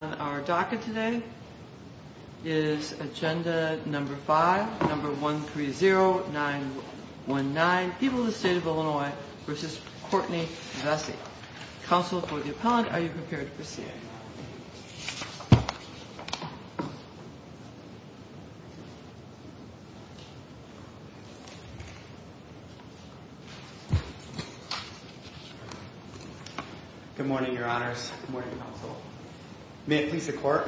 On our docket today is agenda number 5, number 130919, People of the State of Illinois v. Courtney Vesey. Counsel for the appellant, are you prepared for CA? Good morning, your honors. Good morning, counsel. May it please the court,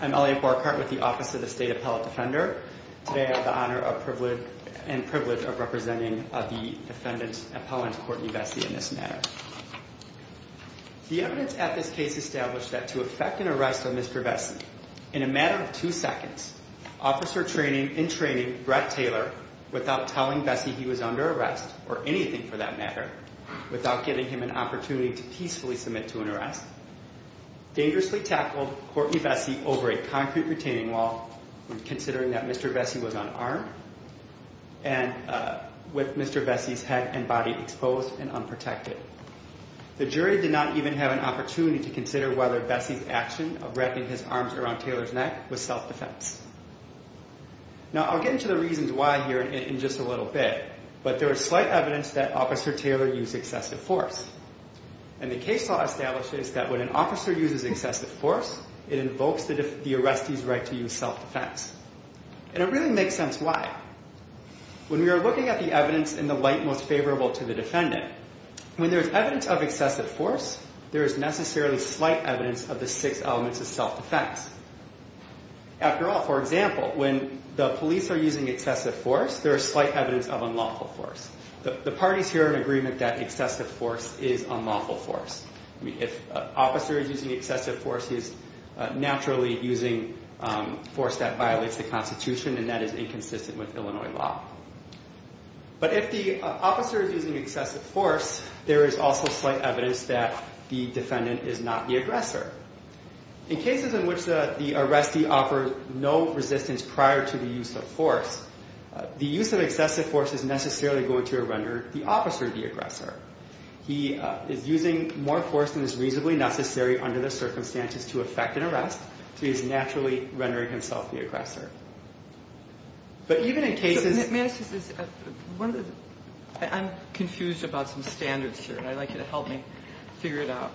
I'm Elliot Borchardt with the Office of the State Appellate Defender. Today I have the honor and privilege of representing the defendant, Appellant Courtney Vesey, in this matter. The evidence at this case established that to effect an arrest on Mr. Vesey, in a matter of two seconds, officer in training, Brett Taylor, without telling Vesey he was under arrest, or anything for that matter, without giving him an opportunity to peacefully submit to an arrest, dangerously tackled Courtney Vesey over a concrete retaining wall, considering that Mr. Vesey was unarmed, and with Mr. Vesey's head and body exposed and unprotected. The jury did not even have an opportunity to consider whether Vesey's action of wrapping his arms around Taylor's neck was self-defense. Now I'll get into the reasons why here in just a little bit, but there is slight evidence that Officer Taylor used excessive force. And the case law establishes that when an officer uses excessive force, it invokes the arrestee's right to use self-defense. And it really makes sense why. When we are looking at the evidence in the light most favorable to the defendant, when there is evidence of excessive force, there is necessarily slight evidence of the six elements of self-defense. After all, for example, when the police are using excessive force, there is slight evidence of unlawful force. The parties here are in agreement that excessive force is unlawful force. If an officer is using excessive force, he is naturally using force that violates the Constitution and that is inconsistent with Illinois law. But if the officer is using excessive force, there is also slight evidence that the defendant is not the aggressor. In cases in which the arrestee offers no resistance prior to the use of force, the use of excessive force is necessarily going to render the officer the aggressor. He is using more force than is reasonably necessary under the circumstances to effect an arrest, so he is naturally rendering himself the aggressor. But even in cases... May I ask you this? I'm confused about some standards here, and I'd like you to help me figure it out.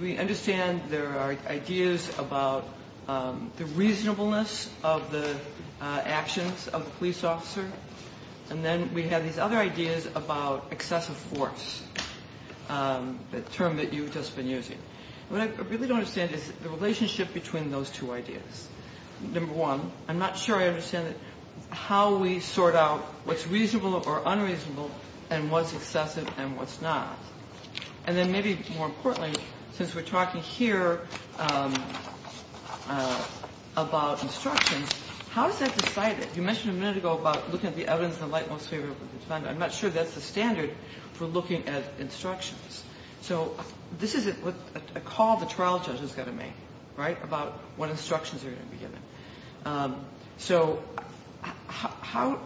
We understand there are ideas about the reasonableness of the actions of the police officer, and then we have these other ideas about excessive force, the term that you've just been using. What I really don't understand is the relationship between those two ideas. Number one, I'm not sure I understand how we sort out what's reasonable or unreasonable and what's excessive and what's not. And then maybe more importantly, since we're talking here about instructions, how is that decided? You mentioned a minute ago about looking at the evidence in the light most favorable to the defendant. I'm not sure that's the standard for looking at instructions. So this is a call the trial judge is going to make, right, about what instructions are going to be given. So how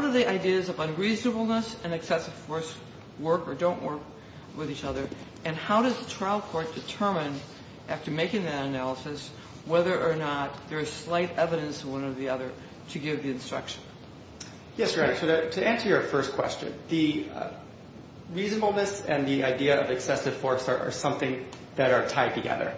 do the ideas of unreasonableness and excessive force work or don't work with each other, and how does the trial court determine, after making that analysis, whether or not there is slight evidence in one or the other to give the instruction? Yes, Greg, to answer your first question, the reasonableness and the idea of excessive force are something that are tied together.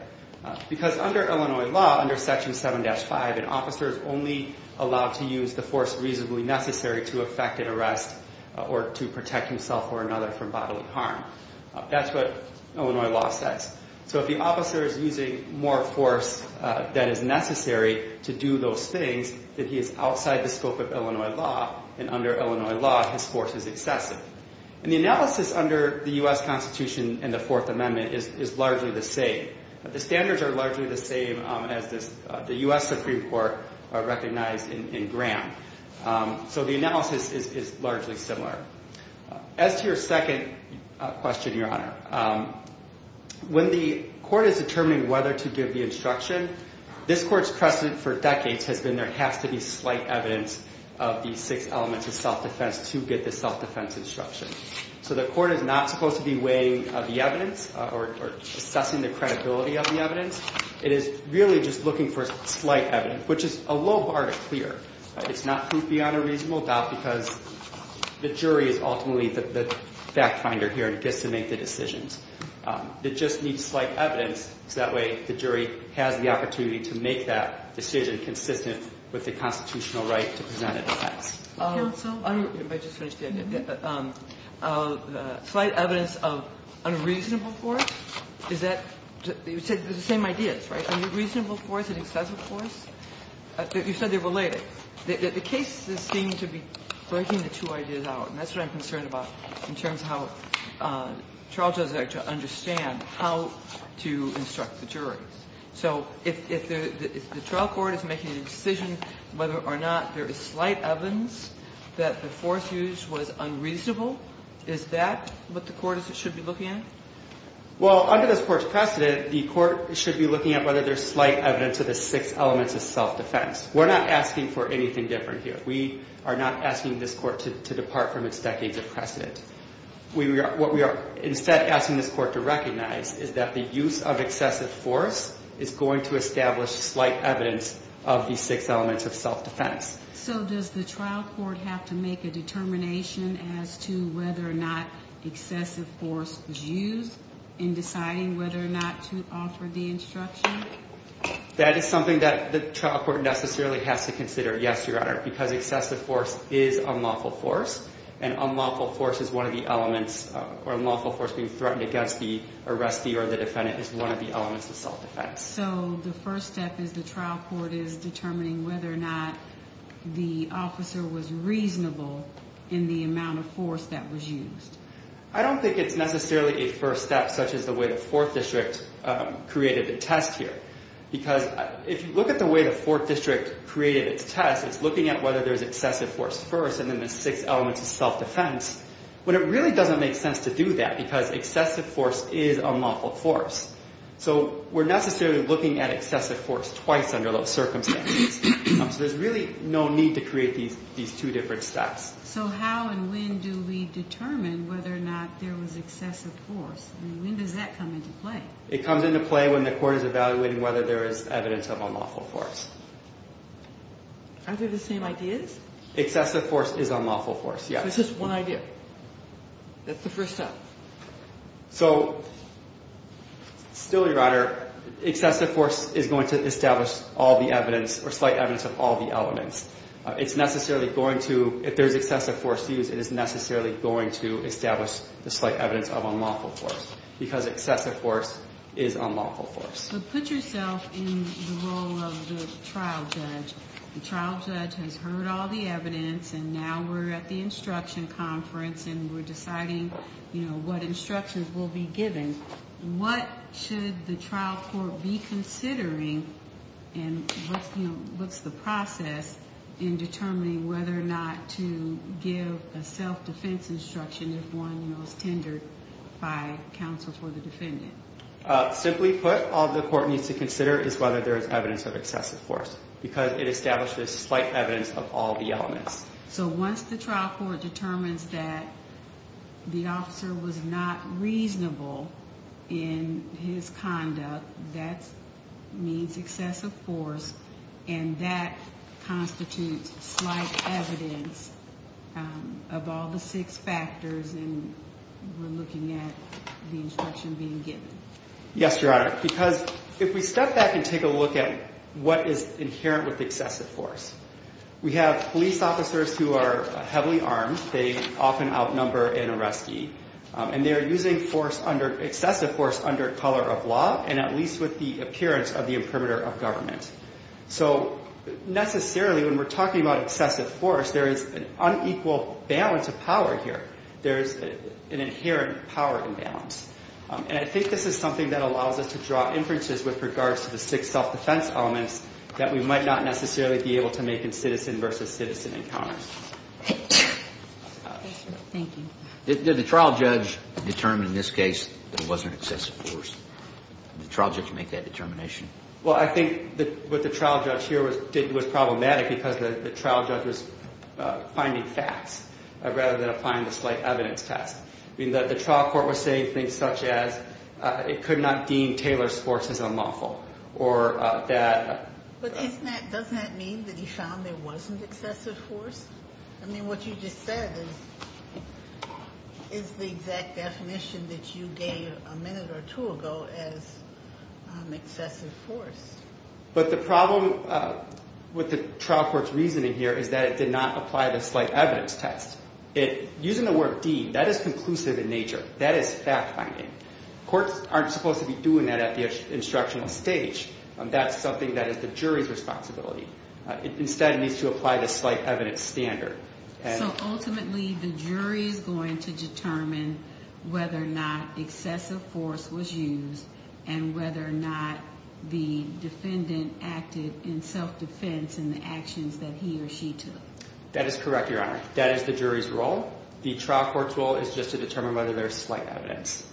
Because under Illinois law, under Section 7-5, an officer is only allowed to use the force reasonably necessary to effect an arrest or to protect himself or another from bodily harm. That's what Illinois law says. So if the officer is using more force than is necessary to do those things, then he is outside the scope of Illinois law, and under Illinois law, his force is excessive. And the analysis under the U.S. Constitution and the Fourth Amendment is largely the same. The standards are largely the same as the U.S. Supreme Court recognized in Graham. So the analysis is largely similar. As to your second question, Your Honor, when the court is determining whether to give the instruction, this court's precedent for decades has been there has to be slight evidence of the six elements of self-defense to get the self-defense instruction. So the court is not supposed to be weighing the evidence or assessing the credibility of the evidence. It is really just looking for slight evidence, which is a low bar to clear. It's not proof beyond a reasonable doubt because the jury is ultimately the fact finder here and gets to make the decisions. It just needs slight evidence, so that way the jury has the opportunity to make that decision consistent with the constitutional right to present an offense. Counsel? Let me just finish. Slight evidence of unreasonable force? Is that the same ideas, right? Unreasonable force and excessive force? You said they're related. The cases seem to be breaking the two ideas out, and that's what I'm concerned about in terms of how trial judges actually understand how to instruct the jury. So if the trial court is making a decision whether or not there is slight evidence that the force used was unreasonable, is that what the court should be looking at? Well, under this court's precedent, the court should be looking at whether there's slight evidence of the six elements of self-defense. We're not asking for anything different here. We are not asking this court to depart from its decades of precedent. What we are instead asking this court to recognize is that the use of excessive force is going to establish slight evidence of the six elements of self-defense. So does the trial court have to make a determination as to whether or not excessive force is used in deciding whether or not to offer the instruction? That is something that the trial court necessarily has to consider, yes, Your Honor, because excessive force is unlawful force, and unlawful force is one of the elements or unlawful force being threatened against the arrestee or the defendant is one of the elements of self-defense. So the first step is the trial court is determining whether or not the officer was reasonable in the amount of force that was used? I don't think it's necessarily a first step such as the way the Fourth District created the test here because if you look at the way the Fourth District created its test, it's looking at whether there's excessive force first and then the six elements of self-defense, but it really doesn't make sense to do that because excessive force is unlawful force. So we're necessarily looking at excessive force twice under those circumstances. So there's really no need to create these two different steps. So how and when do we determine whether or not there was excessive force? I mean, when does that come into play? It comes into play when the court is evaluating whether there is evidence of unlawful force. Aren't they the same ideas? Excessive force is unlawful force, yes. So it's just one idea. That's the first step. So, still your honor, excessive force is going to establish all the evidence or slight evidence of all the elements. It's necessarily going to, if there's excessive force used, it is necessarily going to establish the slight evidence of unlawful force because excessive force is unlawful force. But put yourself in the role of the trial judge. The trial judge has heard all the evidence and now we're at the instruction conference and we're deciding what instructions will be given. What should the trial court be considering and what's the process in determining whether or not to give a self-defense instruction if one was tendered by counsel for the defendant? Simply put, all the court needs to consider is whether there is evidence of excessive force because it establishes slight evidence of all the elements. So once the trial court determines that the officer was not reasonable in his conduct, that means excessive force and that constitutes slight evidence of all the six factors and we're looking at the instruction being given. Yes, your honor. Because if we step back and take a look at what is inherent with excessive force, we have police officers who are heavily armed, they often outnumber an arrestee, and they are using excessive force under color of law and at least with the appearance of the imprimatur of government. So necessarily when we're talking about excessive force, there is an unequal balance of power here. There is an inherent power imbalance. And I think this is something that allows us to draw inferences with regards to the six self-defense elements that we might not necessarily be able to make in citizen versus citizen encounters. Thank you. Did the trial judge determine in this case that it wasn't excessive force? Did the trial judge make that determination? Well, I think what the trial judge here did was problematic because the trial judge was finding facts rather than applying the slight evidence test. The trial court was saying things such as it could not deem Taylor's forces unlawful or that... But doesn't that mean that he found there wasn't excessive force? I mean, what you just said is the exact definition that you gave a minute or two ago as excessive force. But the problem with the trial court's reasoning here is that it did not apply the slight evidence test. Using the word deed, that is conclusive in nature. That is fact-finding. Courts aren't supposed to be doing that at the instructional stage. That's something that is the jury's responsibility. Instead, it needs to apply the slight evidence standard. So ultimately, the jury is going to determine whether or not excessive force was used and whether or not the defendant acted in self-defense in the actions that he or she took. That is correct, Your Honor. That is the jury's role. The trial court's role is just to determine whether there is slight evidence.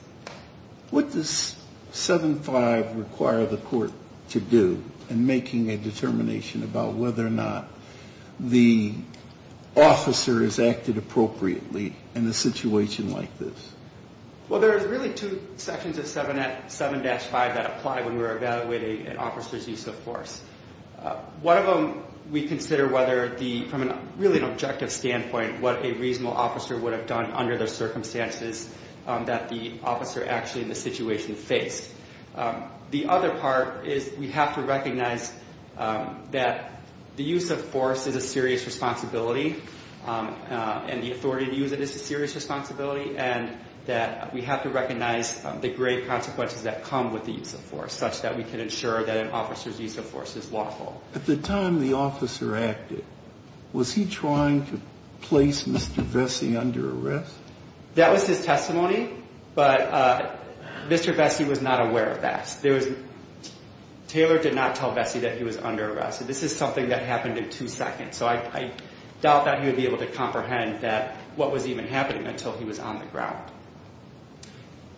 What does 7.5 require the court to do in making a determination about whether or not the officer has acted appropriately in a situation like this? Well, there are really two sections of 7-5 that apply when we're evaluating an officer's use of force. One of them we consider whether, from a really objective standpoint, what a reasonable officer would have done under the circumstances that the officer actually in the situation faced. The other part is we have to recognize that the use of force is a serious responsibility and the authority to use it is a serious responsibility and that we have to recognize the great consequences that come with the use of force such that we can ensure that an officer's use of force is lawful. At the time the officer acted, was he trying to place Mr. Vesey under arrest? That was his testimony, but Mr. Vesey was not aware of that. Taylor did not tell Vesey that he was under arrest. This is something that happened in two seconds, so I doubt that he would be able to comprehend what was even happening until he was on the ground.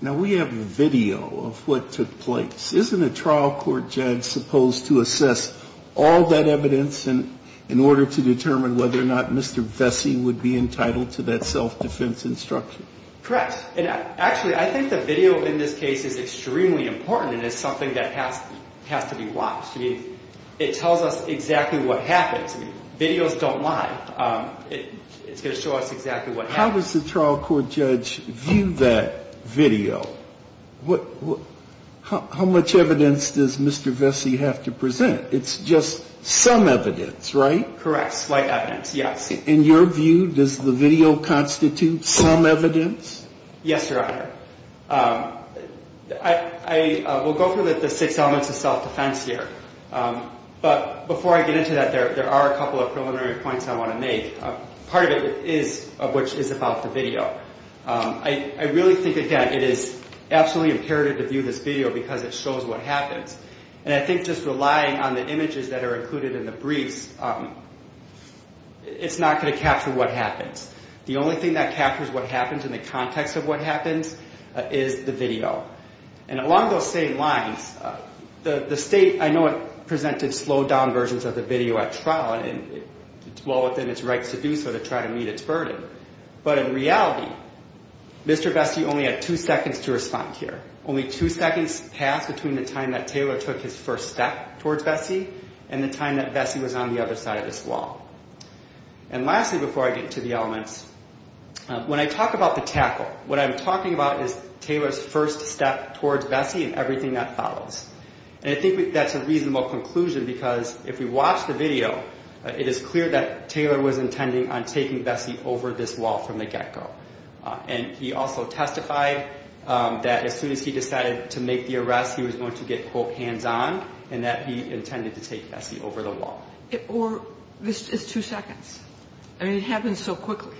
Now, we have a video of what took place. Isn't a trial court judge supposed to assess all that evidence in order to determine whether or not Mr. Vesey would be entitled to that self-defense instruction? Correct. And actually, I think the video in this case is extremely important and is something that has to be watched. I mean, it tells us exactly what happened. Videos don't lie. It's going to show us exactly what happened. Now, how does the trial court judge view that video? How much evidence does Mr. Vesey have to present? It's just some evidence, right? Correct. Slight evidence, yes. In your view, does the video constitute some evidence? Yes, Your Honor. I will go through the six elements of self-defense here, but before I get into that, there are a couple of preliminary points I want to make. Part of it is about the video. I really think, again, it is absolutely imperative to view this video because it shows what happens. And I think just relying on the images that are included in the briefs, it's not going to capture what happens. The only thing that captures what happens in the context of what happens is the video. And along those same lines, the State, I know, presented slowed-down versions of the video at trial, and it's well within its rights to do so to try to meet its burden. But in reality, Mr. Vesey only had two seconds to respond here. Only two seconds passed between the time that Taylor took his first step towards Vesey and the time that Vesey was on the other side of this wall. And lastly, before I get to the elements, when I talk about the tackle, what I'm talking about is Taylor's first step towards Vesey and everything that follows. And I think that's a reasonable conclusion because if we watch the video, it is clear that Taylor was intending on taking Vesey over this wall from the get-go. And he also testified that as soon as he decided to make the arrest, he was going to get, quote, hands-on, and that he intended to take Vesey over the wall. Or this is just two seconds. I mean, it happens so quickly,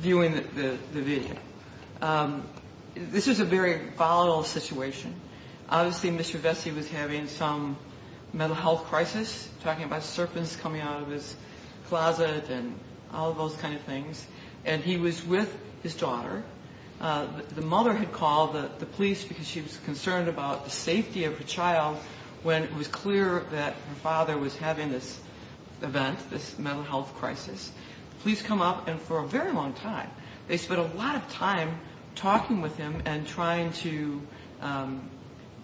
viewing the video. This was a very volatile situation. Obviously, Mr. Vesey was having some mental health crisis, talking about serpents coming out of his closet and all those kind of things. And he was with his daughter. The mother had called the police because she was concerned about the safety of her child when it was clear that her father was having this event, this mental health crisis. The police come up, and for a very long time, they spent a lot of time talking with him and trying to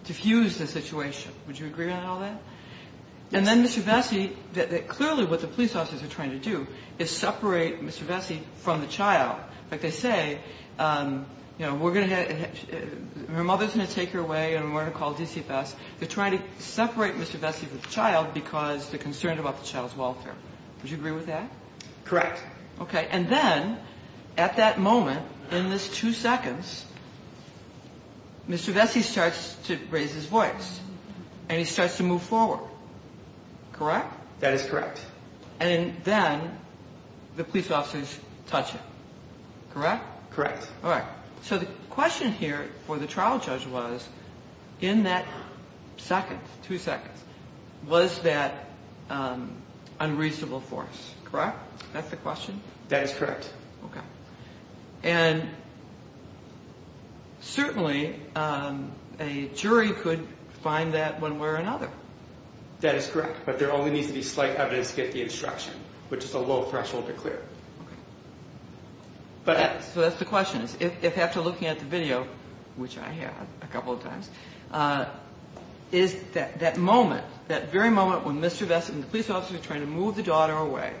diffuse the situation. Would you agree on all that? Yes. And then Mr. Vesey, clearly what the police officers are trying to do is separate Mr. Vesey from the child. In fact, they say, you know, her mother's going to take her away and we're going to call DCFS. They're trying to separate Mr. Vesey from the child because they're concerned about the child's welfare. Would you agree with that? Correct. Okay. And then at that moment, in this two seconds, Mr. Vesey starts to raise his voice, and he starts to move forward, correct? That is correct. And then the police officers touch him, correct? Correct. All right. So the question here for the trial judge was, in that second, two seconds, was that unreasonable force, correct? That's the question? That is correct. Okay. And certainly a jury could find that one way or another. That is correct, but there only needs to be slight evidence to get the instruction, which is a low threshold to clear. Okay. So that's the question. If after looking at the video, which I had a couple of times, is that moment, that very moment when Mr. Vesey and the police officers are trying to move the daughter away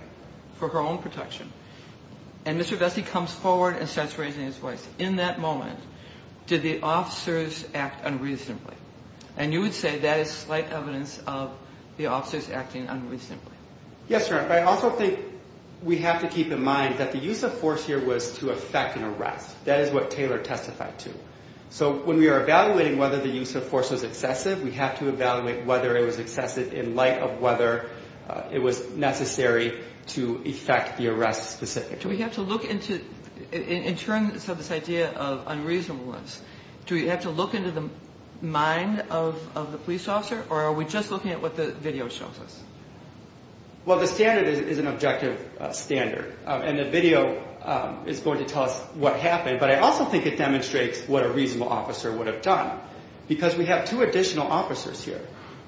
for her own protection, and Mr. Vesey comes forward and starts raising his voice, in that moment, did the officers act unreasonably? And you would say that is slight evidence of the officers acting unreasonably. Yes, ma'am. I also think we have to keep in mind that the use of force here was to effect an arrest. That is what Taylor testified to. So when we are evaluating whether the use of force was excessive, we have to evaluate whether it was excessive in light of whether it was necessary to effect the arrest specifically. Do we have to look into, in terms of this idea of unreasonable ones, do we have to look into the mind of the police officer, or are we just looking at what the video shows us? Well, the standard is an objective standard, and the video is going to tell us what happened, but I also think it demonstrates what a reasonable officer would have done, because we have two additional officers here.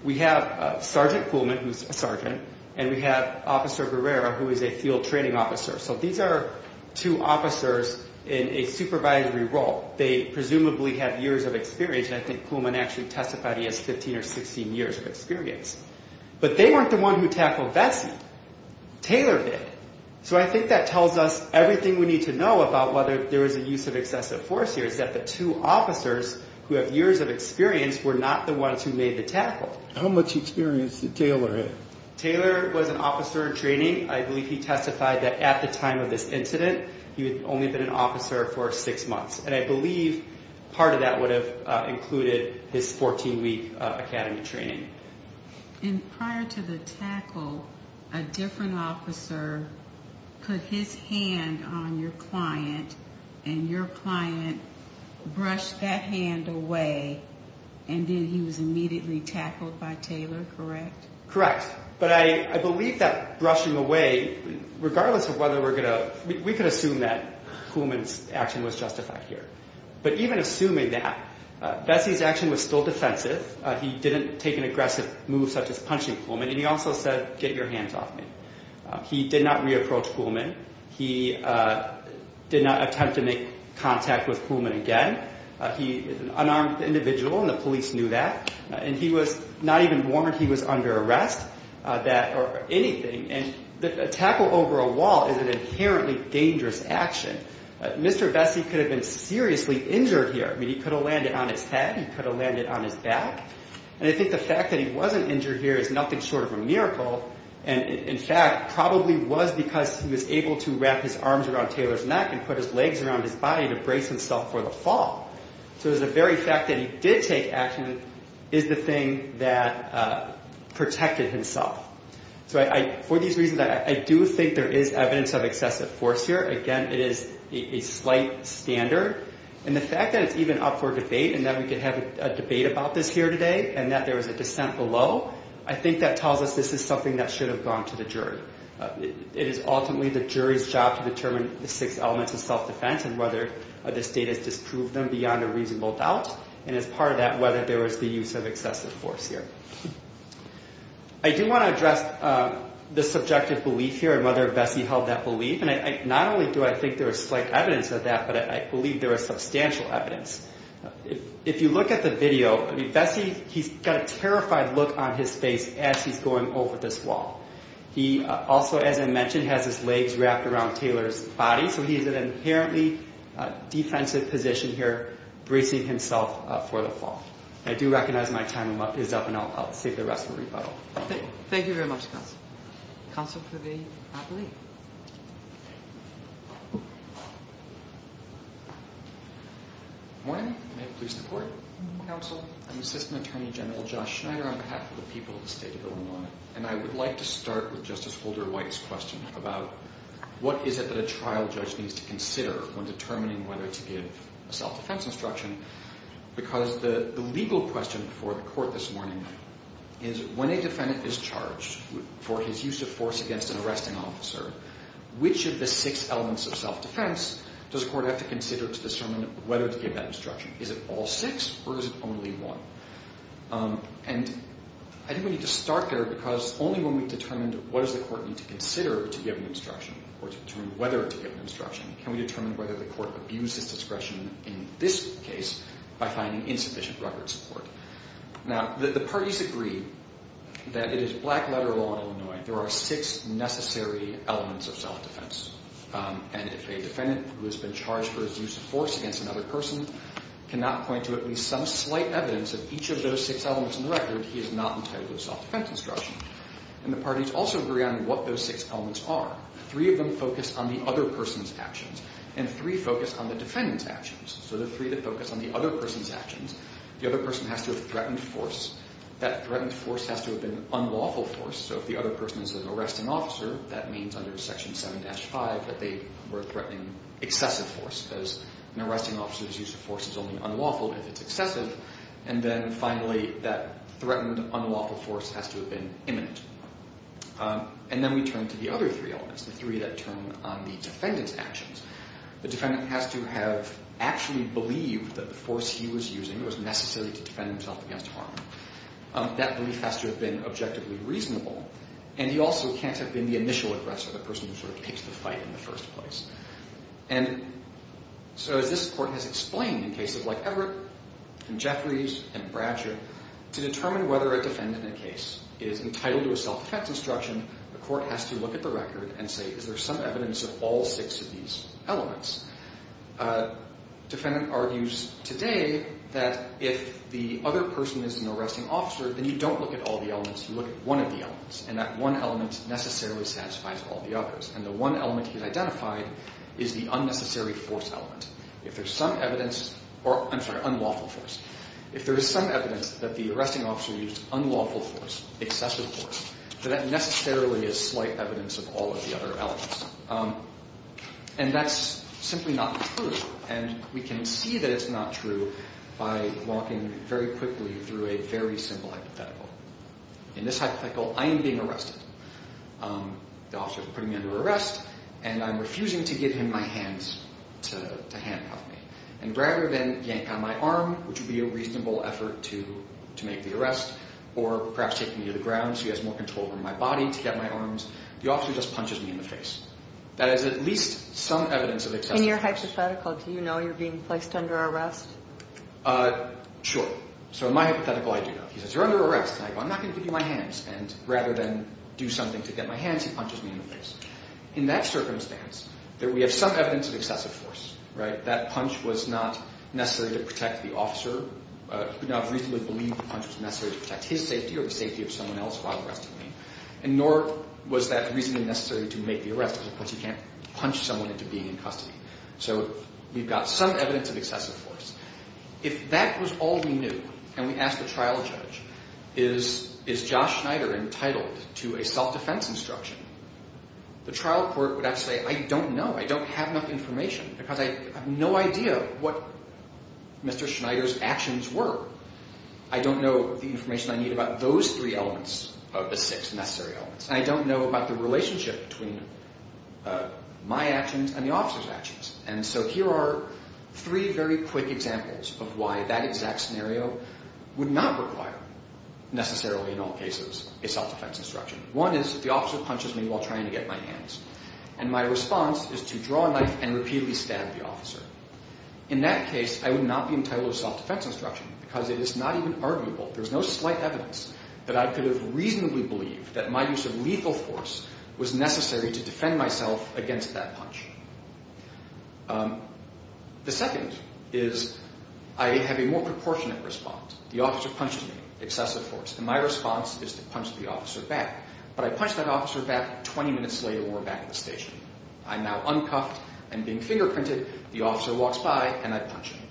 We have Sergeant Kuhlman, who is a sergeant, and we have Officer Guerrero, who is a field training officer. So these are two officers in a supervisory role. They presumably have years of experience, and I think Kuhlman actually testified he has 15 or 16 years of experience. But they weren't the ones who tackled Vesey. Taylor did. So I think that tells us everything we need to know about whether there was a use of excessive force here, is that the two officers who have years of experience were not the ones who made the tackle. How much experience did Taylor have? Taylor was an officer in training. I believe he testified that at the time of this incident, he had only been an officer for six months, and I believe part of that would have included his 14-week academy training. And prior to the tackle, a different officer put his hand on your client, and your client brushed that hand away, and then he was immediately tackled by Taylor, correct? Correct. But I believe that brushing away, regardless of whether we're going to – we could assume that Kuhlman's action was justified here. But even assuming that, Vesey's action was still defensive. He didn't take an aggressive move such as punching Kuhlman, and he also said, get your hands off me. He did not re-approach Kuhlman. He did not attempt to make contact with Kuhlman again. He unarmed the individual, and the police knew that. And he was not even warned he was under arrest, that or anything. And a tackle over a wall is an inherently dangerous action. Mr. Vesey could have been seriously injured here. I mean, he could have landed on his head. He could have landed on his back. And I think the fact that he wasn't injured here is nothing short of a miracle, and, in fact, probably was because he was able to wrap his arms around Taylor's neck and put his legs around his body to brace himself for the fall. So the very fact that he did take action is the thing that protected himself. So for these reasons, I do think there is evidence of excessive force here. Again, it is a slight standard. And the fact that it's even up for debate and that we could have a debate about this here today and that there was a dissent below, I think that tells us this is something that should have gone to the jury. It is ultimately the jury's job to determine the six elements of self-defense and whether this data has disproved them beyond a reasonable doubt and, as part of that, whether there was the use of excessive force here. I do want to address the subjective belief here and whether Vesey held that belief. And not only do I think there is slight evidence of that, but I believe there is substantial evidence. If you look at the video, Vesey, he's got a terrified look on his face as he's going over this wall. He also, as I mentioned, has his legs wrapped around Taylor's body, so he's in an inherently defensive position here bracing himself for the fall. I do recognize my time is up, and I'll save the rest for rebuttal. Thank you very much, Counsel. Counsel for the plea. Good morning. May it please the Court. Counsel. I'm Assistant Attorney General Josh Schneider on behalf of the people of the state of Illinois, and I would like to start with Justice Holder White's question about what is it that a trial judge needs to consider when determining whether to give a self-defense instruction because the legal question before the Court this morning is, when a defendant is charged for his use of force against an arresting officer, which of the six elements of self-defense does a court have to consider to determine whether to give that instruction? Is it all six or is it only one? And I think we need to start there because only when we've determined what does the Court need to consider to give an instruction or to determine whether to give an instruction can we determine whether the Court abuses discretion in this case by finding insufficient record support. Now, the parties agree that it is black-letter law in Illinois. There are six necessary elements of self-defense, and if a defendant who has been charged for his use of force against another person cannot point to at least some slight evidence of each of those six elements in the record, he is not entitled to self-defense instruction. And the parties also agree on what those six elements are. Three of them focus on the other person's actions, and three focus on the defendant's actions. So the three that focus on the other person's actions, the other person has to have threatened force. That threatened force has to have been unlawful force, so if the other person is an arresting officer, that means under Section 7-5 that they were threatening excessive force, because an arresting officer's use of force is only unlawful if it's excessive. And then, finally, that threatened unlawful force has to have been imminent. And then we turn to the other three elements, the three that turn on the defendant's actions. The defendant has to have actually believed that the force he was using was necessary to defend himself against harm. That belief has to have been objectively reasonable. And he also can't have been the initial aggressor, the person who sort of takes the fight in the first place. And so as this Court has explained in cases like Everett and Jeffries and Bradshaw, to determine whether a defendant in a case is entitled to a self-defense instruction, the Court has to look at the record and say, is there some evidence of all six of these elements? A defendant argues today that if the other person is an arresting officer, then you don't look at all the elements. You look at one of the elements. And that one element necessarily satisfies all the others. And the one element he's identified is the unnecessary force element. If there's some evidence, or I'm sorry, unlawful force. If there is some evidence that the arresting officer used unlawful force, excessive force, then that necessarily is slight evidence of all of the other elements. And that's simply not true. And we can see that it's not true by walking very quickly through a very simple hypothetical. In this hypothetical, I am being arrested. The officer is putting me under arrest, and I'm refusing to give him my hands to handcuff me. And rather than yank on my arm, which would be a reasonable effort to make the arrest, or perhaps take me to the ground so he has more control over my body to get my arms, the officer just punches me in the face. That is at least some evidence of excessive force. In your hypothetical, do you know you're being placed under arrest? Sure. So in my hypothetical, I do know. He says, you're under arrest. And I go, I'm not going to give you my hands. And rather than do something to get my hands, he punches me in the face. In that circumstance, we have some evidence of excessive force. That punch was not necessary to protect the officer. He could not reasonably believe the punch was necessary to protect his safety or the safety of someone else while arresting me. And nor was that reasonably necessary to make the arrest, because, of course, you can't punch someone into being in custody. So we've got some evidence of excessive force. If that was all we knew and we asked the trial judge, is Josh Schneider entitled to a self-defense instruction, the trial court would have to say, I don't know. I don't have enough information because I have no idea what Mr. Schneider's actions were. I don't know the information I need about those three elements of the six necessary elements. And I don't know about the relationship between my actions and the officer's actions. And so here are three very quick examples of why that exact scenario would not require, necessarily in all cases, a self-defense instruction. One is the officer punches me while trying to get my hands. And my response is to draw a knife and repeatedly stab the officer. In that case, I would not be entitled to self-defense instruction because it is not even arguable. There's no slight evidence that I could have reasonably believed that my use of lethal force was necessary to defend myself against that punch. The second is I have a more proportionate response. The officer punches me, excessive force, and my response is to punch the officer back. But I punch that officer back 20 minutes later when we're back at the station. I'm now uncuffed and being fingerprinted. The officer walks by and I punch him.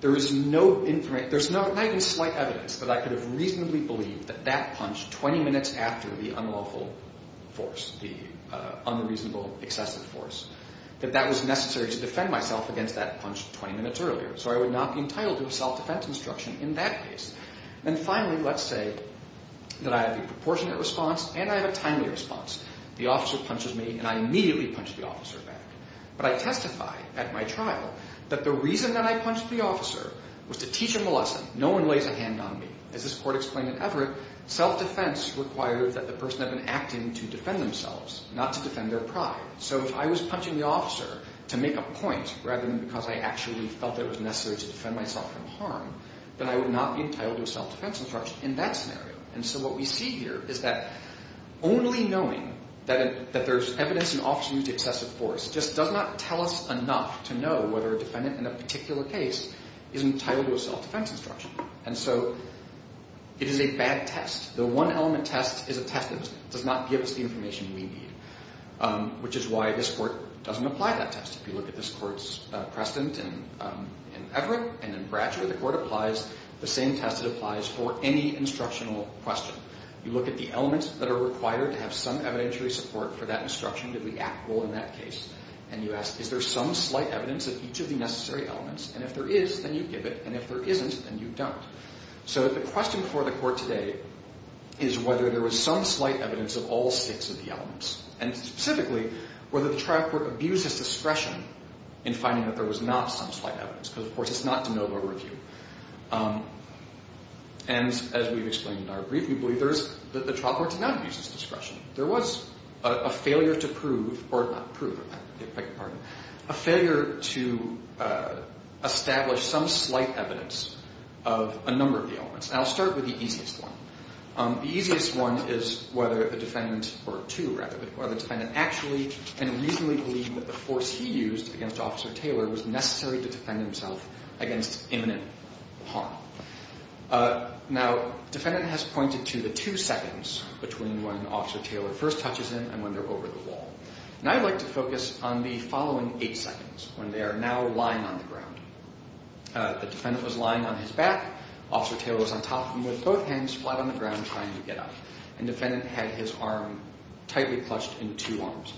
There is not even slight evidence that I could have reasonably believed that that punch 20 minutes after the unlawful force, the unreasonable excessive force, that that was necessary to defend myself against that punch 20 minutes earlier. So I would not be entitled to self-defense instruction in that case. And finally, let's say that I have a proportionate response and I have a timely response. The officer punches me and I immediately punch the officer back. But I testify at my trial that the reason that I punched the officer was to teach him a lesson. No one lays a hand on me. As this court explained at Everett, self-defense requires that the person have been acting to defend themselves, not to defend their pride. So if I was punching the officer to make a point rather than because I actually felt it was necessary to defend myself from harm, then I would not be entitled to self-defense instruction in that scenario. And so what we see here is that only knowing that there's evidence in the officer's use of excessive force just does not tell us enough to know whether a defendant in a particular case is entitled to a self-defense instruction. And so it is a bad test. The one element test is a test that does not give us the information we need, which is why this court doesn't apply that test. If you look at this court's precedent in Everett and in Bradshaw, the same test that applies for any instructional question. You look at the elements that are required to have some evidentiary support for that instruction. Did we act well in that case? And you ask, is there some slight evidence of each of the necessary elements? And if there is, then you give it. And if there isn't, then you don't. So the question for the court today is whether there was some slight evidence of all six of the elements, and specifically whether the trial court abused its discretion in finding that there was not some slight evidence, because of course it's not de novo review. And as we've explained in our brief, we believe that the trial court did not abuse its discretion. There was a failure to prove or not prove, I beg your pardon, a failure to establish some slight evidence of a number of the elements. And I'll start with the easiest one. The easiest one is whether the defendant, or two rather, whether the defendant actually and reasonably believed that the force he used against Officer Taylor was necessary to defend himself against imminent harm. Now, defendant has pointed to the two seconds between when Officer Taylor first touches him and when they're over the wall. And I'd like to focus on the following eight seconds, when they are now lying on the ground. The defendant was lying on his back. Officer Taylor was on top of him with both hands flat on the ground trying to get up. And defendant had his arm tightly clutched in two arms.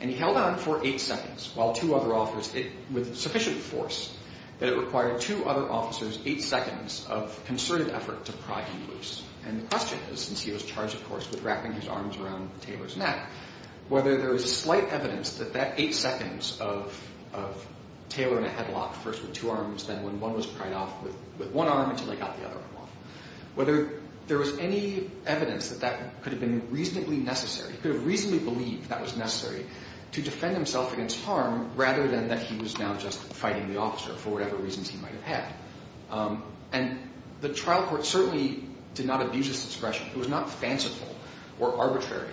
And he held on for eight seconds while two other officers, with sufficient force, that it required two other officers eight seconds of concerted effort to pry him loose. And the question is, since he was charged, of course, with wrapping his arms around Taylor's neck, whether there was a slight evidence that that eight seconds of Taylor in a headlock, first with two arms, then when one was pried off with one arm until he got the other arm off, whether there was any evidence that that could have been reasonably necessary. He could have reasonably believed that was necessary to defend himself against harm rather than that he was now just fighting the officer for whatever reasons he might have had. And the trial court certainly did not abuse this expression. It was not fanciful or arbitrary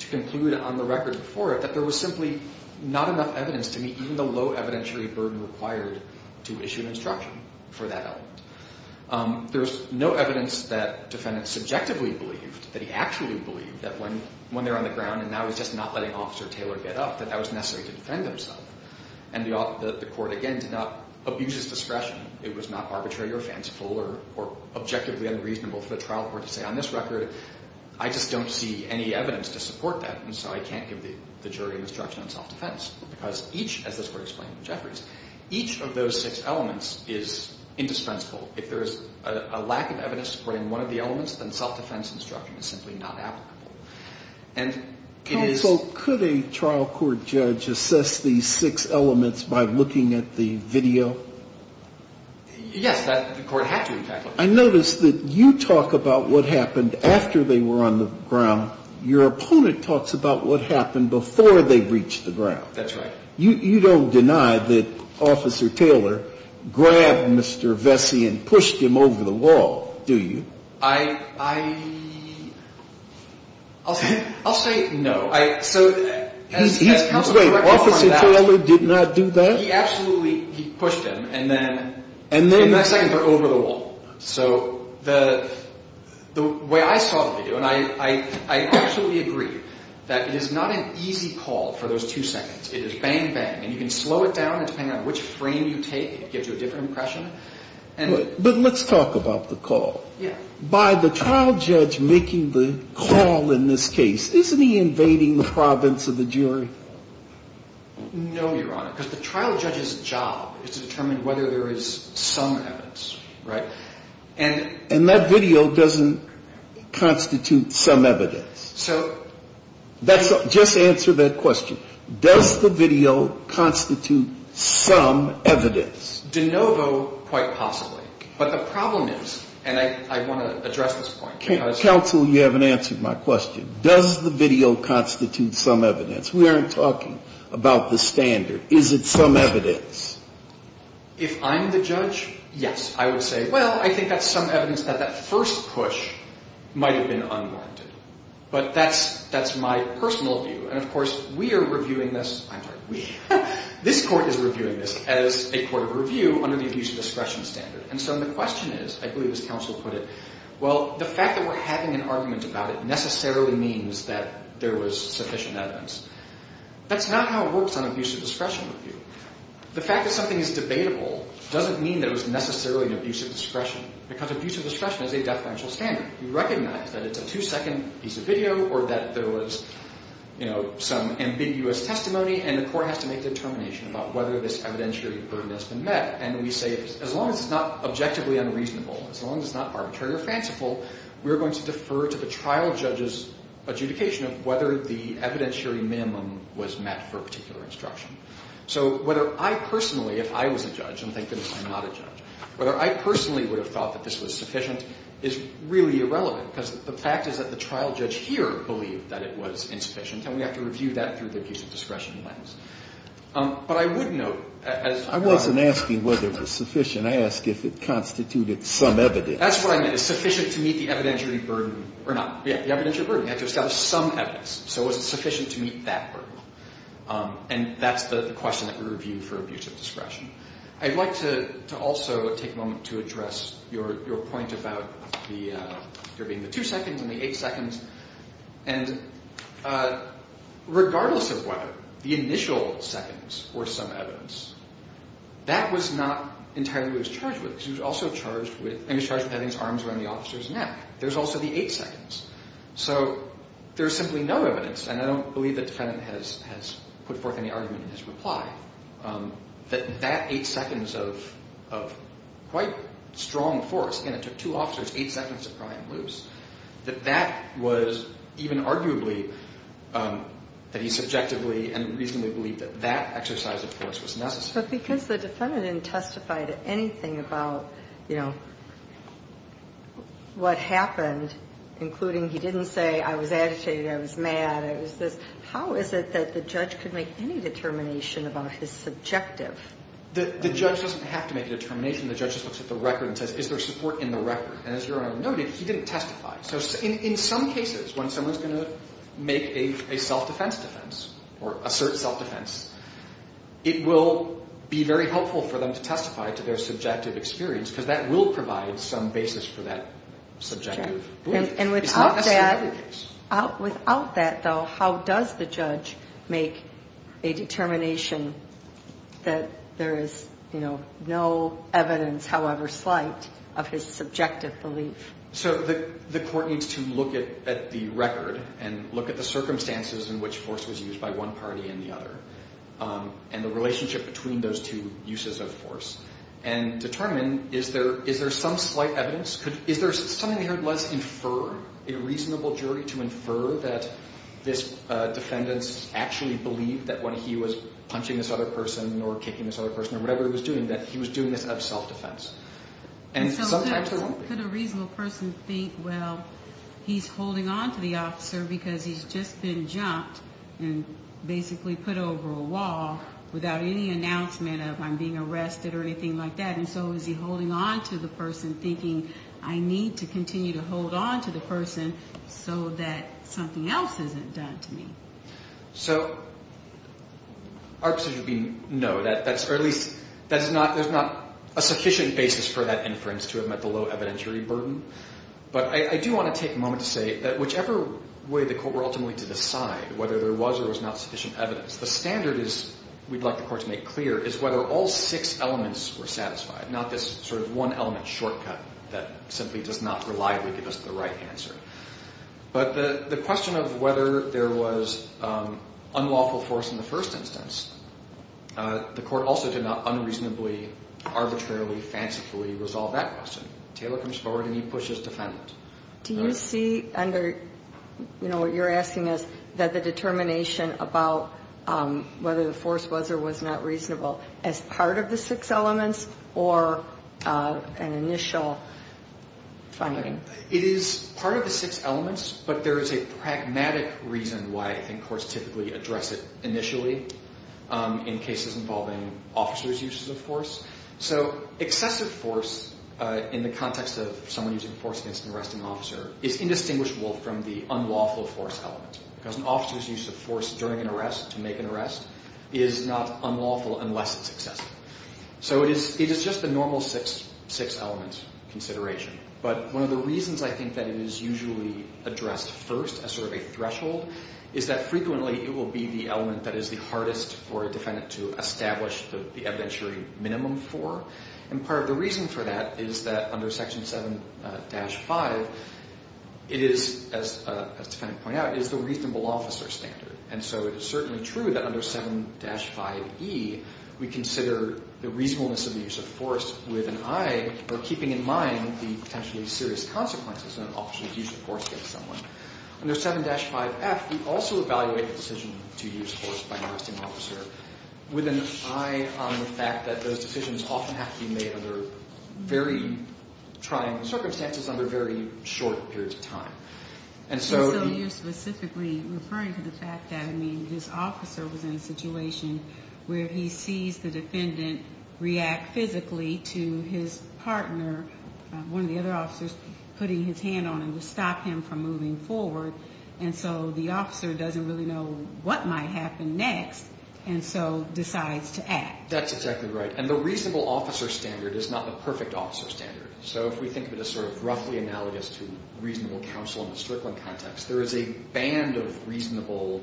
to conclude on the record before it that there was simply not enough evidence to meet even the low evidentiary burden required to issue an instruction for that element. There was no evidence that defendant subjectively believed, that he actually believed, that when they're on the ground and now he's just not letting Officer Taylor get up, that that was necessary to defend himself. And the court, again, did not abuse this expression. It was not arbitrary or fanciful or objectively unreasonable for the trial court to say, on this record, I just don't see any evidence to support that, and so I can't give the jury an instruction on self-defense. Because each, as this court explained to Jeffries, each of those six elements is indispensable. If there is a lack of evidence supporting one of the elements, then self-defense instruction is simply not applicable. And it is ‑‑ So could a trial court judge assess these six elements by looking at the video? Yes. The court had to, in fact. I notice that you talk about what happened after they were on the ground. Your opponent talks about what happened before they reached the ground. That's right. You don't deny that Officer Taylor grabbed Mr. Vesey and pushed him over the wall, do you? I'll say no. Wait, Officer Taylor did not do that? He absolutely ‑‑ he pushed him, and then in that second, they're over the wall. So the way I saw the video, and I absolutely agree, that it is not an easy call for those two seconds. It is bang, bang. And you can slow it down, and depending on which frame you take, it gives you a different impression. But let's talk about the call. By the trial judge making the call in this case, isn't he invading the province of the jury? No, Your Honor, because the trial judge's job is to determine whether there is some evidence, right? And that video doesn't constitute some evidence. So ‑‑ Just answer that question. Does the video constitute some evidence? De novo, quite possibly. But the problem is, and I want to address this point, because ‑‑ Counsel, you haven't answered my question. Does the video constitute some evidence? We aren't talking about the standard. Is it some evidence? If I'm the judge, yes. I would say, well, I think that's some evidence that that first push might have been unwarranted. But that's my personal view. And, of course, we are reviewing this ‑‑ I'm sorry, we. This Court is reviewing this as a court of review under the Abuse of Discretion Standard. And so the question is, I believe as counsel put it, well, the fact that we're having an argument about it necessarily means that there was sufficient evidence. That's not how it works on Abuse of Discretion Review. The fact that something is debatable doesn't mean that it was necessarily an abuse of discretion, because abuse of discretion is a deferential standard. We recognize that it's a two‑second piece of video or that there was, you know, some ambiguous testimony, and the court has to make determination about whether this evidentiary burden has been met. And we say, as long as it's not objectively unreasonable, as long as it's not arbitrary or fanciful, we're going to defer to the trial judge's adjudication of whether the evidentiary minimum was met for a particular instruction. So whether I personally, if I was a judge, and thank goodness I'm not a judge, whether I personally would have thought that this was sufficient is really irrelevant, because the fact is that the trial judge here believed that it was insufficient, and we have to review that through the abuse of discretion lens. But I would note, as ‑‑ When I'm asking whether it was sufficient, I ask if it constituted some evidence. That's what I meant. Is it sufficient to meet the evidentiary burden or not? Yeah, the evidentiary burden. You have to establish some evidence. So was it sufficient to meet that burden? And that's the question that we review for abuse of discretion. I'd like to also take a moment to address your point about there being the two seconds and the eight seconds. And regardless of whether the initial seconds were some evidence, that was not entirely what he was charged with, because he was also charged with having his arms around the officer's neck. There's also the eight seconds. So there's simply no evidence, and I don't believe the defendant has put forth any argument in his reply, that that eight seconds of quite strong force, again, it took two officers eight seconds to pry him loose, that that was even arguably that he subjectively and reasonably believed that that exercise of force was necessary. But because the defendant didn't testify to anything about, you know, what happened, including he didn't say, I was agitated, I was mad, I was this, how is it that the judge could make any determination about his subjective? The judge doesn't have to make a determination. The judge just looks at the record and says, is there support in the record? And as your Honor noted, he didn't testify. So in some cases, when someone's going to make a self-defense defense or assert self-defense, it will be very helpful for them to testify to their subjective experience, because that will provide some basis for that subjective belief. It's not necessary belief. Without that, though, how does the judge make a determination that there is, you know, no evidence, however slight, of his subjective belief? So the court needs to look at the record and look at the circumstances in which force was used by one party and the other, and the relationship between those two uses of force, and determine, is there some slight evidence? Is there something here, let's infer, a reasonable jury to infer that this defendant actually believed that when he was punching this other person or kicking this other person or whatever he was doing, that he was doing this out of self-defense? And sometimes there won't be. Could a reasonable person think, well, he's holding on to the officer because he's just been jumped and basically put over a wall without any announcement of, I'm being arrested or anything like that, and so is he holding on to the person, thinking, I need to continue to hold on to the person so that something else isn't done to me? So our position would be no. Or at least there's not a sufficient basis for that inference to have met the low evidentiary burden. But I do want to take a moment to say that whichever way the court were ultimately to decide whether there was or was not sufficient evidence, the standard we'd like the court to make clear is whether all six elements were satisfied, not this sort of one-element shortcut that simply does not reliably give us the right answer. But the question of whether there was unlawful force in the first instance, the court also did not unreasonably, arbitrarily, fancifully resolve that question. Taylor comes forward and he pushes defendant. Do you see under what you're asking us that the determination about whether the force was or was not reasonable as part of the six elements or an initial finding? It is part of the six elements, but there is a pragmatic reason why I think courts typically address it initially in cases involving officers' uses of force. So excessive force in the context of someone using force against an arresting officer is indistinguishable from the unlawful force element because an officer's use of force during an arrest to make an arrest is not unlawful unless it's excessive. So it is just a normal six-element consideration. But one of the reasons I think that it is usually addressed first as sort of a threshold is that frequently it will be the element that is the hardest for a defendant to establish the evidentiary minimum for. And part of the reason for that is that under Section 7-5 it is, as the defendant pointed out, it is the reasonable officer standard. And so it is certainly true that under 7-5e we consider the reasonableness of the use of force with an eye or keeping in mind the potentially serious consequences of an officer's use of force against someone. Under 7-5f we also evaluate the decision to use force by an arresting officer with an eye on the fact that those decisions often have to be made under very trying circumstances under very short periods of time. And so you're specifically referring to the fact that his officer was in a situation where he sees the defendant react physically to his partner, one of the other officers, putting his hand on him to stop him from moving forward. And so the officer doesn't really know what might happen next and so decides to act. That's exactly right. And the reasonable officer standard is not the perfect officer standard. So if we think of it as sort of roughly analogous to reasonable counsel in the Strickland context, there is a band of reasonable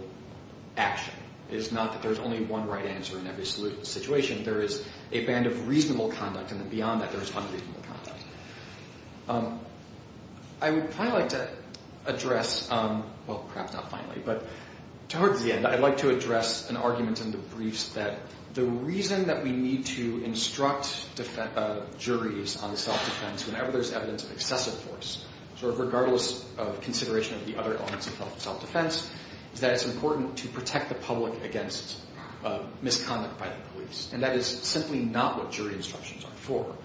action. It is not that there is only one right answer in every situation. There is a band of reasonable conduct and then beyond that there is unreasonable conduct. I would probably like to address, well, perhaps not finally, but towards the end, I'd like to address an argument in the briefs that the reason that we need to instruct juries on self-defense whenever there's evidence of excessive force, sort of regardless of consideration of the other elements of self-defense, is that it's important to protect the public against misconduct by the police. And that is simply not what jury instructions are for.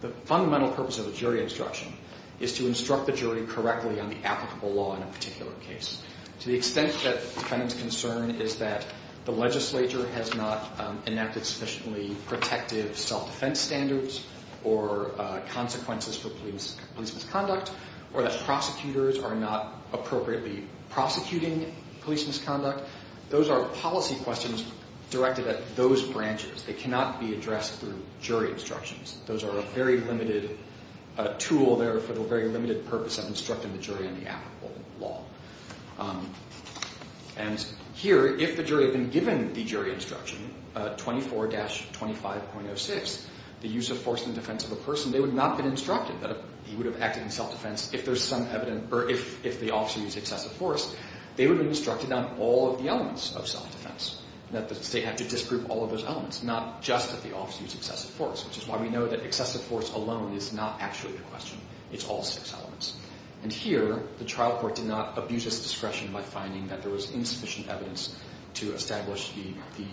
The fundamental purpose of a jury instruction is to instruct the jury correctly on the applicable law in a particular case. To the extent that the defendant's concern is that the legislature has not enacted sufficiently protective self-defense standards or consequences for police misconduct or that prosecutors are not appropriately prosecuting police misconduct, those are policy questions directed at those branches. They cannot be addressed through jury instructions. Those are a very limited tool there for the very limited purpose of instructing the jury on the applicable law. And here, if the jury had been given the jury instruction, 24-25.06, the use of force in defense of a person, they would not have been instructed. He would have acted in self-defense if the officer used excessive force. They would have been instructed on all of the elements of self-defense, and that the state had to disprove all of those elements, not just that the officer used excessive force, which is why we know that excessive force alone is not actually the question. It's all six elements. And here, the trial court did not abuse its discretion by finding that there was insufficient evidence to establish the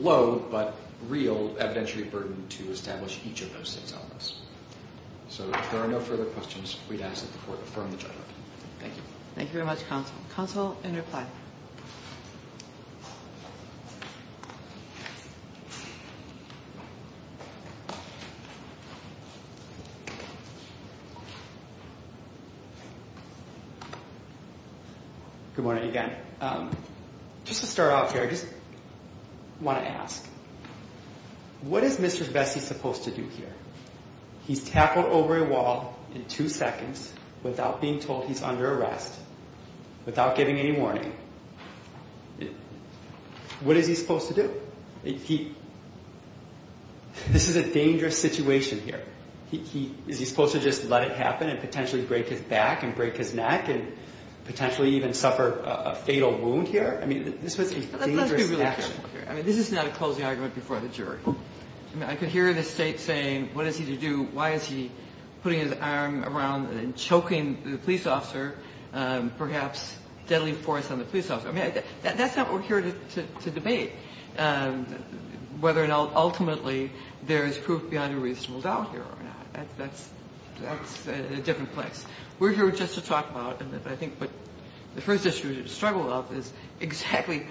low but real evidentiary burden to establish each of those six elements. So if there are no further questions, we'd ask that the court affirm the judgment. Thank you. Thank you very much, counsel. Counsel, in reply. Good morning again. Just to start off here, I just want to ask, what is Mr. Vesey supposed to do here? He's tackled over a wall in two seconds without being told he's under arrest, without giving any warning. What is he supposed to do? This is a dangerous situation here. Is he supposed to just let it happen and potentially break his back and break his neck and potentially even suffer a fatal wound here? I mean, this was a dangerous action. I mean, this is not a closing argument before the jury. I mean, I could hear the State saying, what is he to do? Why is he putting his arm around and choking the police officer, perhaps deadly force on the police officer? I mean, that's not what we're here to debate, whether or not ultimately there is proof beyond a reasonable doubt here or not. That's a different place. We're here just to talk about, I think, what the first issue to struggle with is exactly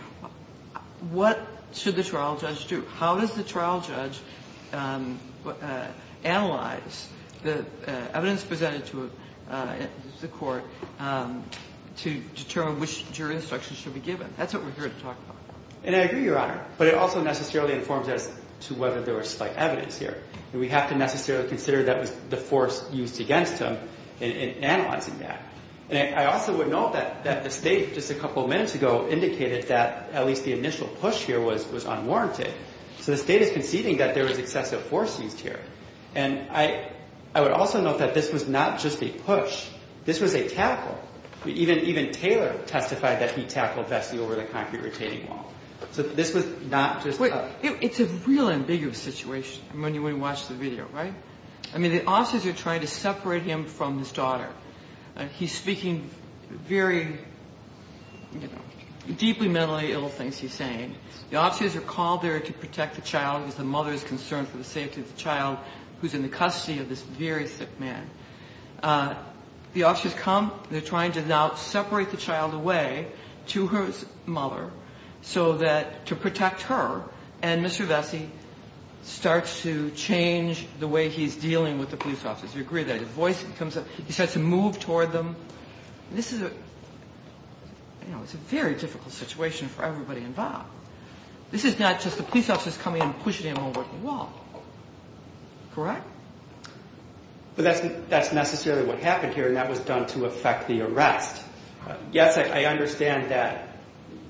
what should the trial judge do? How does the trial judge analyze the evidence presented to the court to determine which jury instruction should be given? That's what we're here to talk about. And I agree, Your Honor, but it also necessarily informs as to whether there was slight evidence here. And we have to necessarily consider that was the force used against him in analyzing that. And I also would note that the State just a couple of minutes ago indicated that at least the initial push here was unwarranted. So the State is conceding that there was excessive force used here. And I would also note that this was not just a push. This was a tackle. Even Taylor testified that he tackled Vessi over the concrete retaining wall. So this was not just a – It's a real ambiguous situation when you watch the video, right? I mean, the officers are trying to separate him from his daughter. He's speaking very, you know, deeply mentally ill things he's saying. The officers are called there to protect the child because the mother is concerned for the safety of the child who's in the custody of this very sick man. The officers come. They're trying to now separate the child away to her mother so that – to protect her. And Mr. Vessi starts to change the way he's dealing with the police officers. Do you agree with that? His voice becomes – he starts to move toward them. This is a – you know, it's a very difficult situation for everybody involved. This is not just the police officers coming and pushing him over the wall. Correct? But that's necessarily what happened here, and that was done to effect the arrest. Yes, I understand that,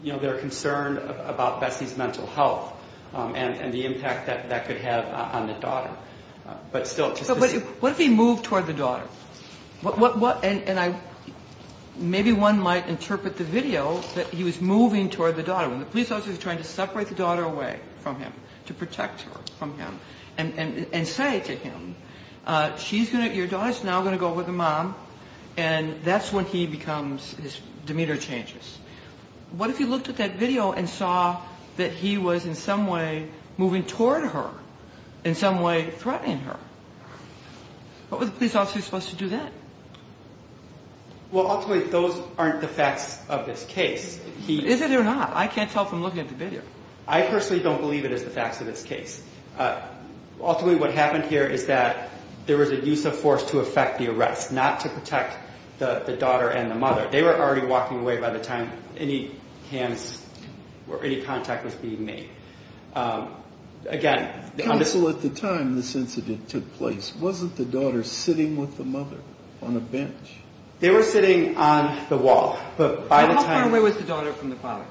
you know, they're concerned about Vessi's mental health and the impact that that could have on the daughter. But still, just to see – But what if he moved toward the daughter? And I – maybe one might interpret the video that he was moving toward the daughter. When the police officers are trying to separate the daughter away from him, to protect her from him, and say to him, she's going to – your daughter's now going to go with the mom, and that's when he becomes – his demeanor changes. What if he looked at that video and saw that he was in some way moving toward her, in some way threatening her? What were the police officers supposed to do then? Well, ultimately, those aren't the facts of this case. Is it or not? I can't tell from looking at the video. I personally don't believe it is the facts of this case. Ultimately, what happened here is that there was a use of force to effect the arrest, not to protect the daughter and the mother. They were already walking away by the time any hands or any contact was being made. Again – Counsel, at the time this incident took place, wasn't the daughter sitting with the mother on a bench? They were sitting on the wall, but by the time – How far away was the daughter from the father?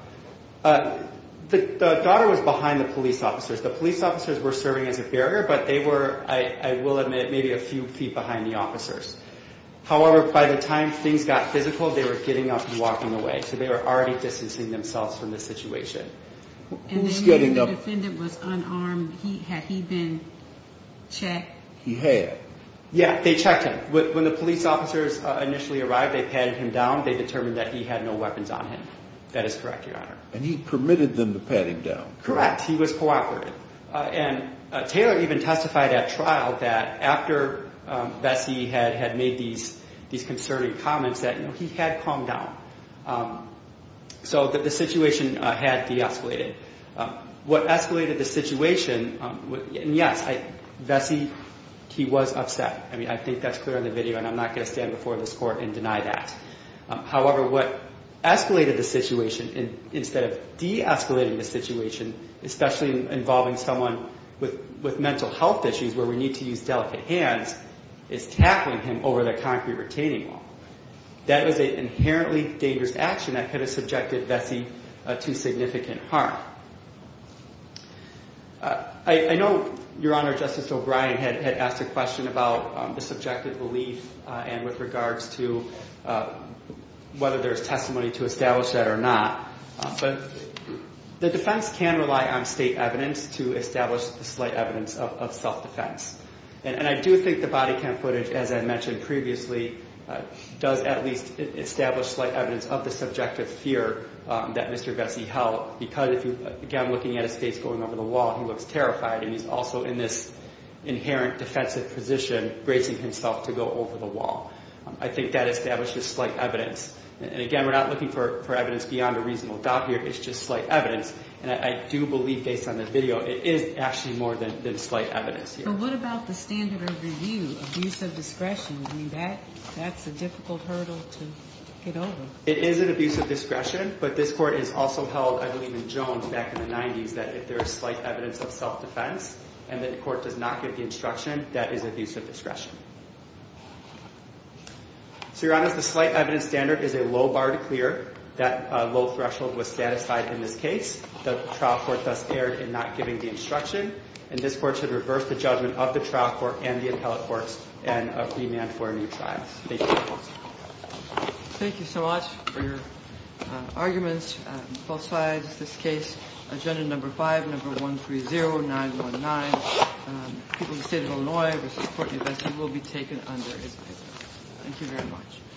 The daughter was behind the police officers. The police officers were serving as a barrier, but they were, I will admit, maybe a few feet behind the officers. However, by the time things got physical, they were getting up and walking away, so they were already distancing themselves from the situation. Who was getting up? The defendant was unarmed. Had he been checked? He had. Yeah, they checked him. When the police officers initially arrived, they patted him down. They determined that he had no weapons on him. That is correct, Your Honor. And he permitted them to pat him down? Correct. He was cooperative. And Taylor even testified at trial that after Bessie had made these concerning comments, that he had calmed down. So the situation had de-escalated. What escalated the situation – and yes, Bessie, he was upset. I mean, I think that's clear in the video, and I'm not going to stand before this court and deny that. However, what escalated the situation instead of de-escalating the situation, especially involving someone with mental health issues where we need to use delicate hands, is tackling him over the concrete retaining wall. That was an inherently dangerous action that could have subjected Bessie to significant harm. I know, Your Honor, Justice O'Brien had asked a question about the subjective belief and with regards to whether there's testimony to establish that or not. But the defense can rely on state evidence to establish the slight evidence of self-defense. And I do think the body cam footage, as I mentioned previously, does at least establish slight evidence of the subjective fear that Mr. Bessie held. Because, again, looking at his face going over the wall, he looks terrified. And he's also in this inherent defensive position, bracing himself to go over the wall. I think that establishes slight evidence. And again, we're not looking for evidence beyond a reasonable doubt here. It's just slight evidence. And I do believe, based on the video, it is actually more than slight evidence here. Your Honor, what about the standard of review, abuse of discretion? I mean, that's a difficult hurdle to get over. It is an abuse of discretion. But this court has also held, I believe in Jones back in the 90s, that if there is slight evidence of self-defense and the court does not give the instruction, that is abuse of discretion. So, Your Honor, the slight evidence standard is a low bar to clear. That low threshold was satisfied in this case. The trial court thus erred in not giving the instruction. And this court should reverse the judgment of the trial court and the appellate courts and remand for a new trial. Thank you. Thank you so much for your arguments. Both sides of this case. Agenda number 5, number 130919, People of the State of Illinois v. Court of Investigation, will be taken under this bill. Thank you very much.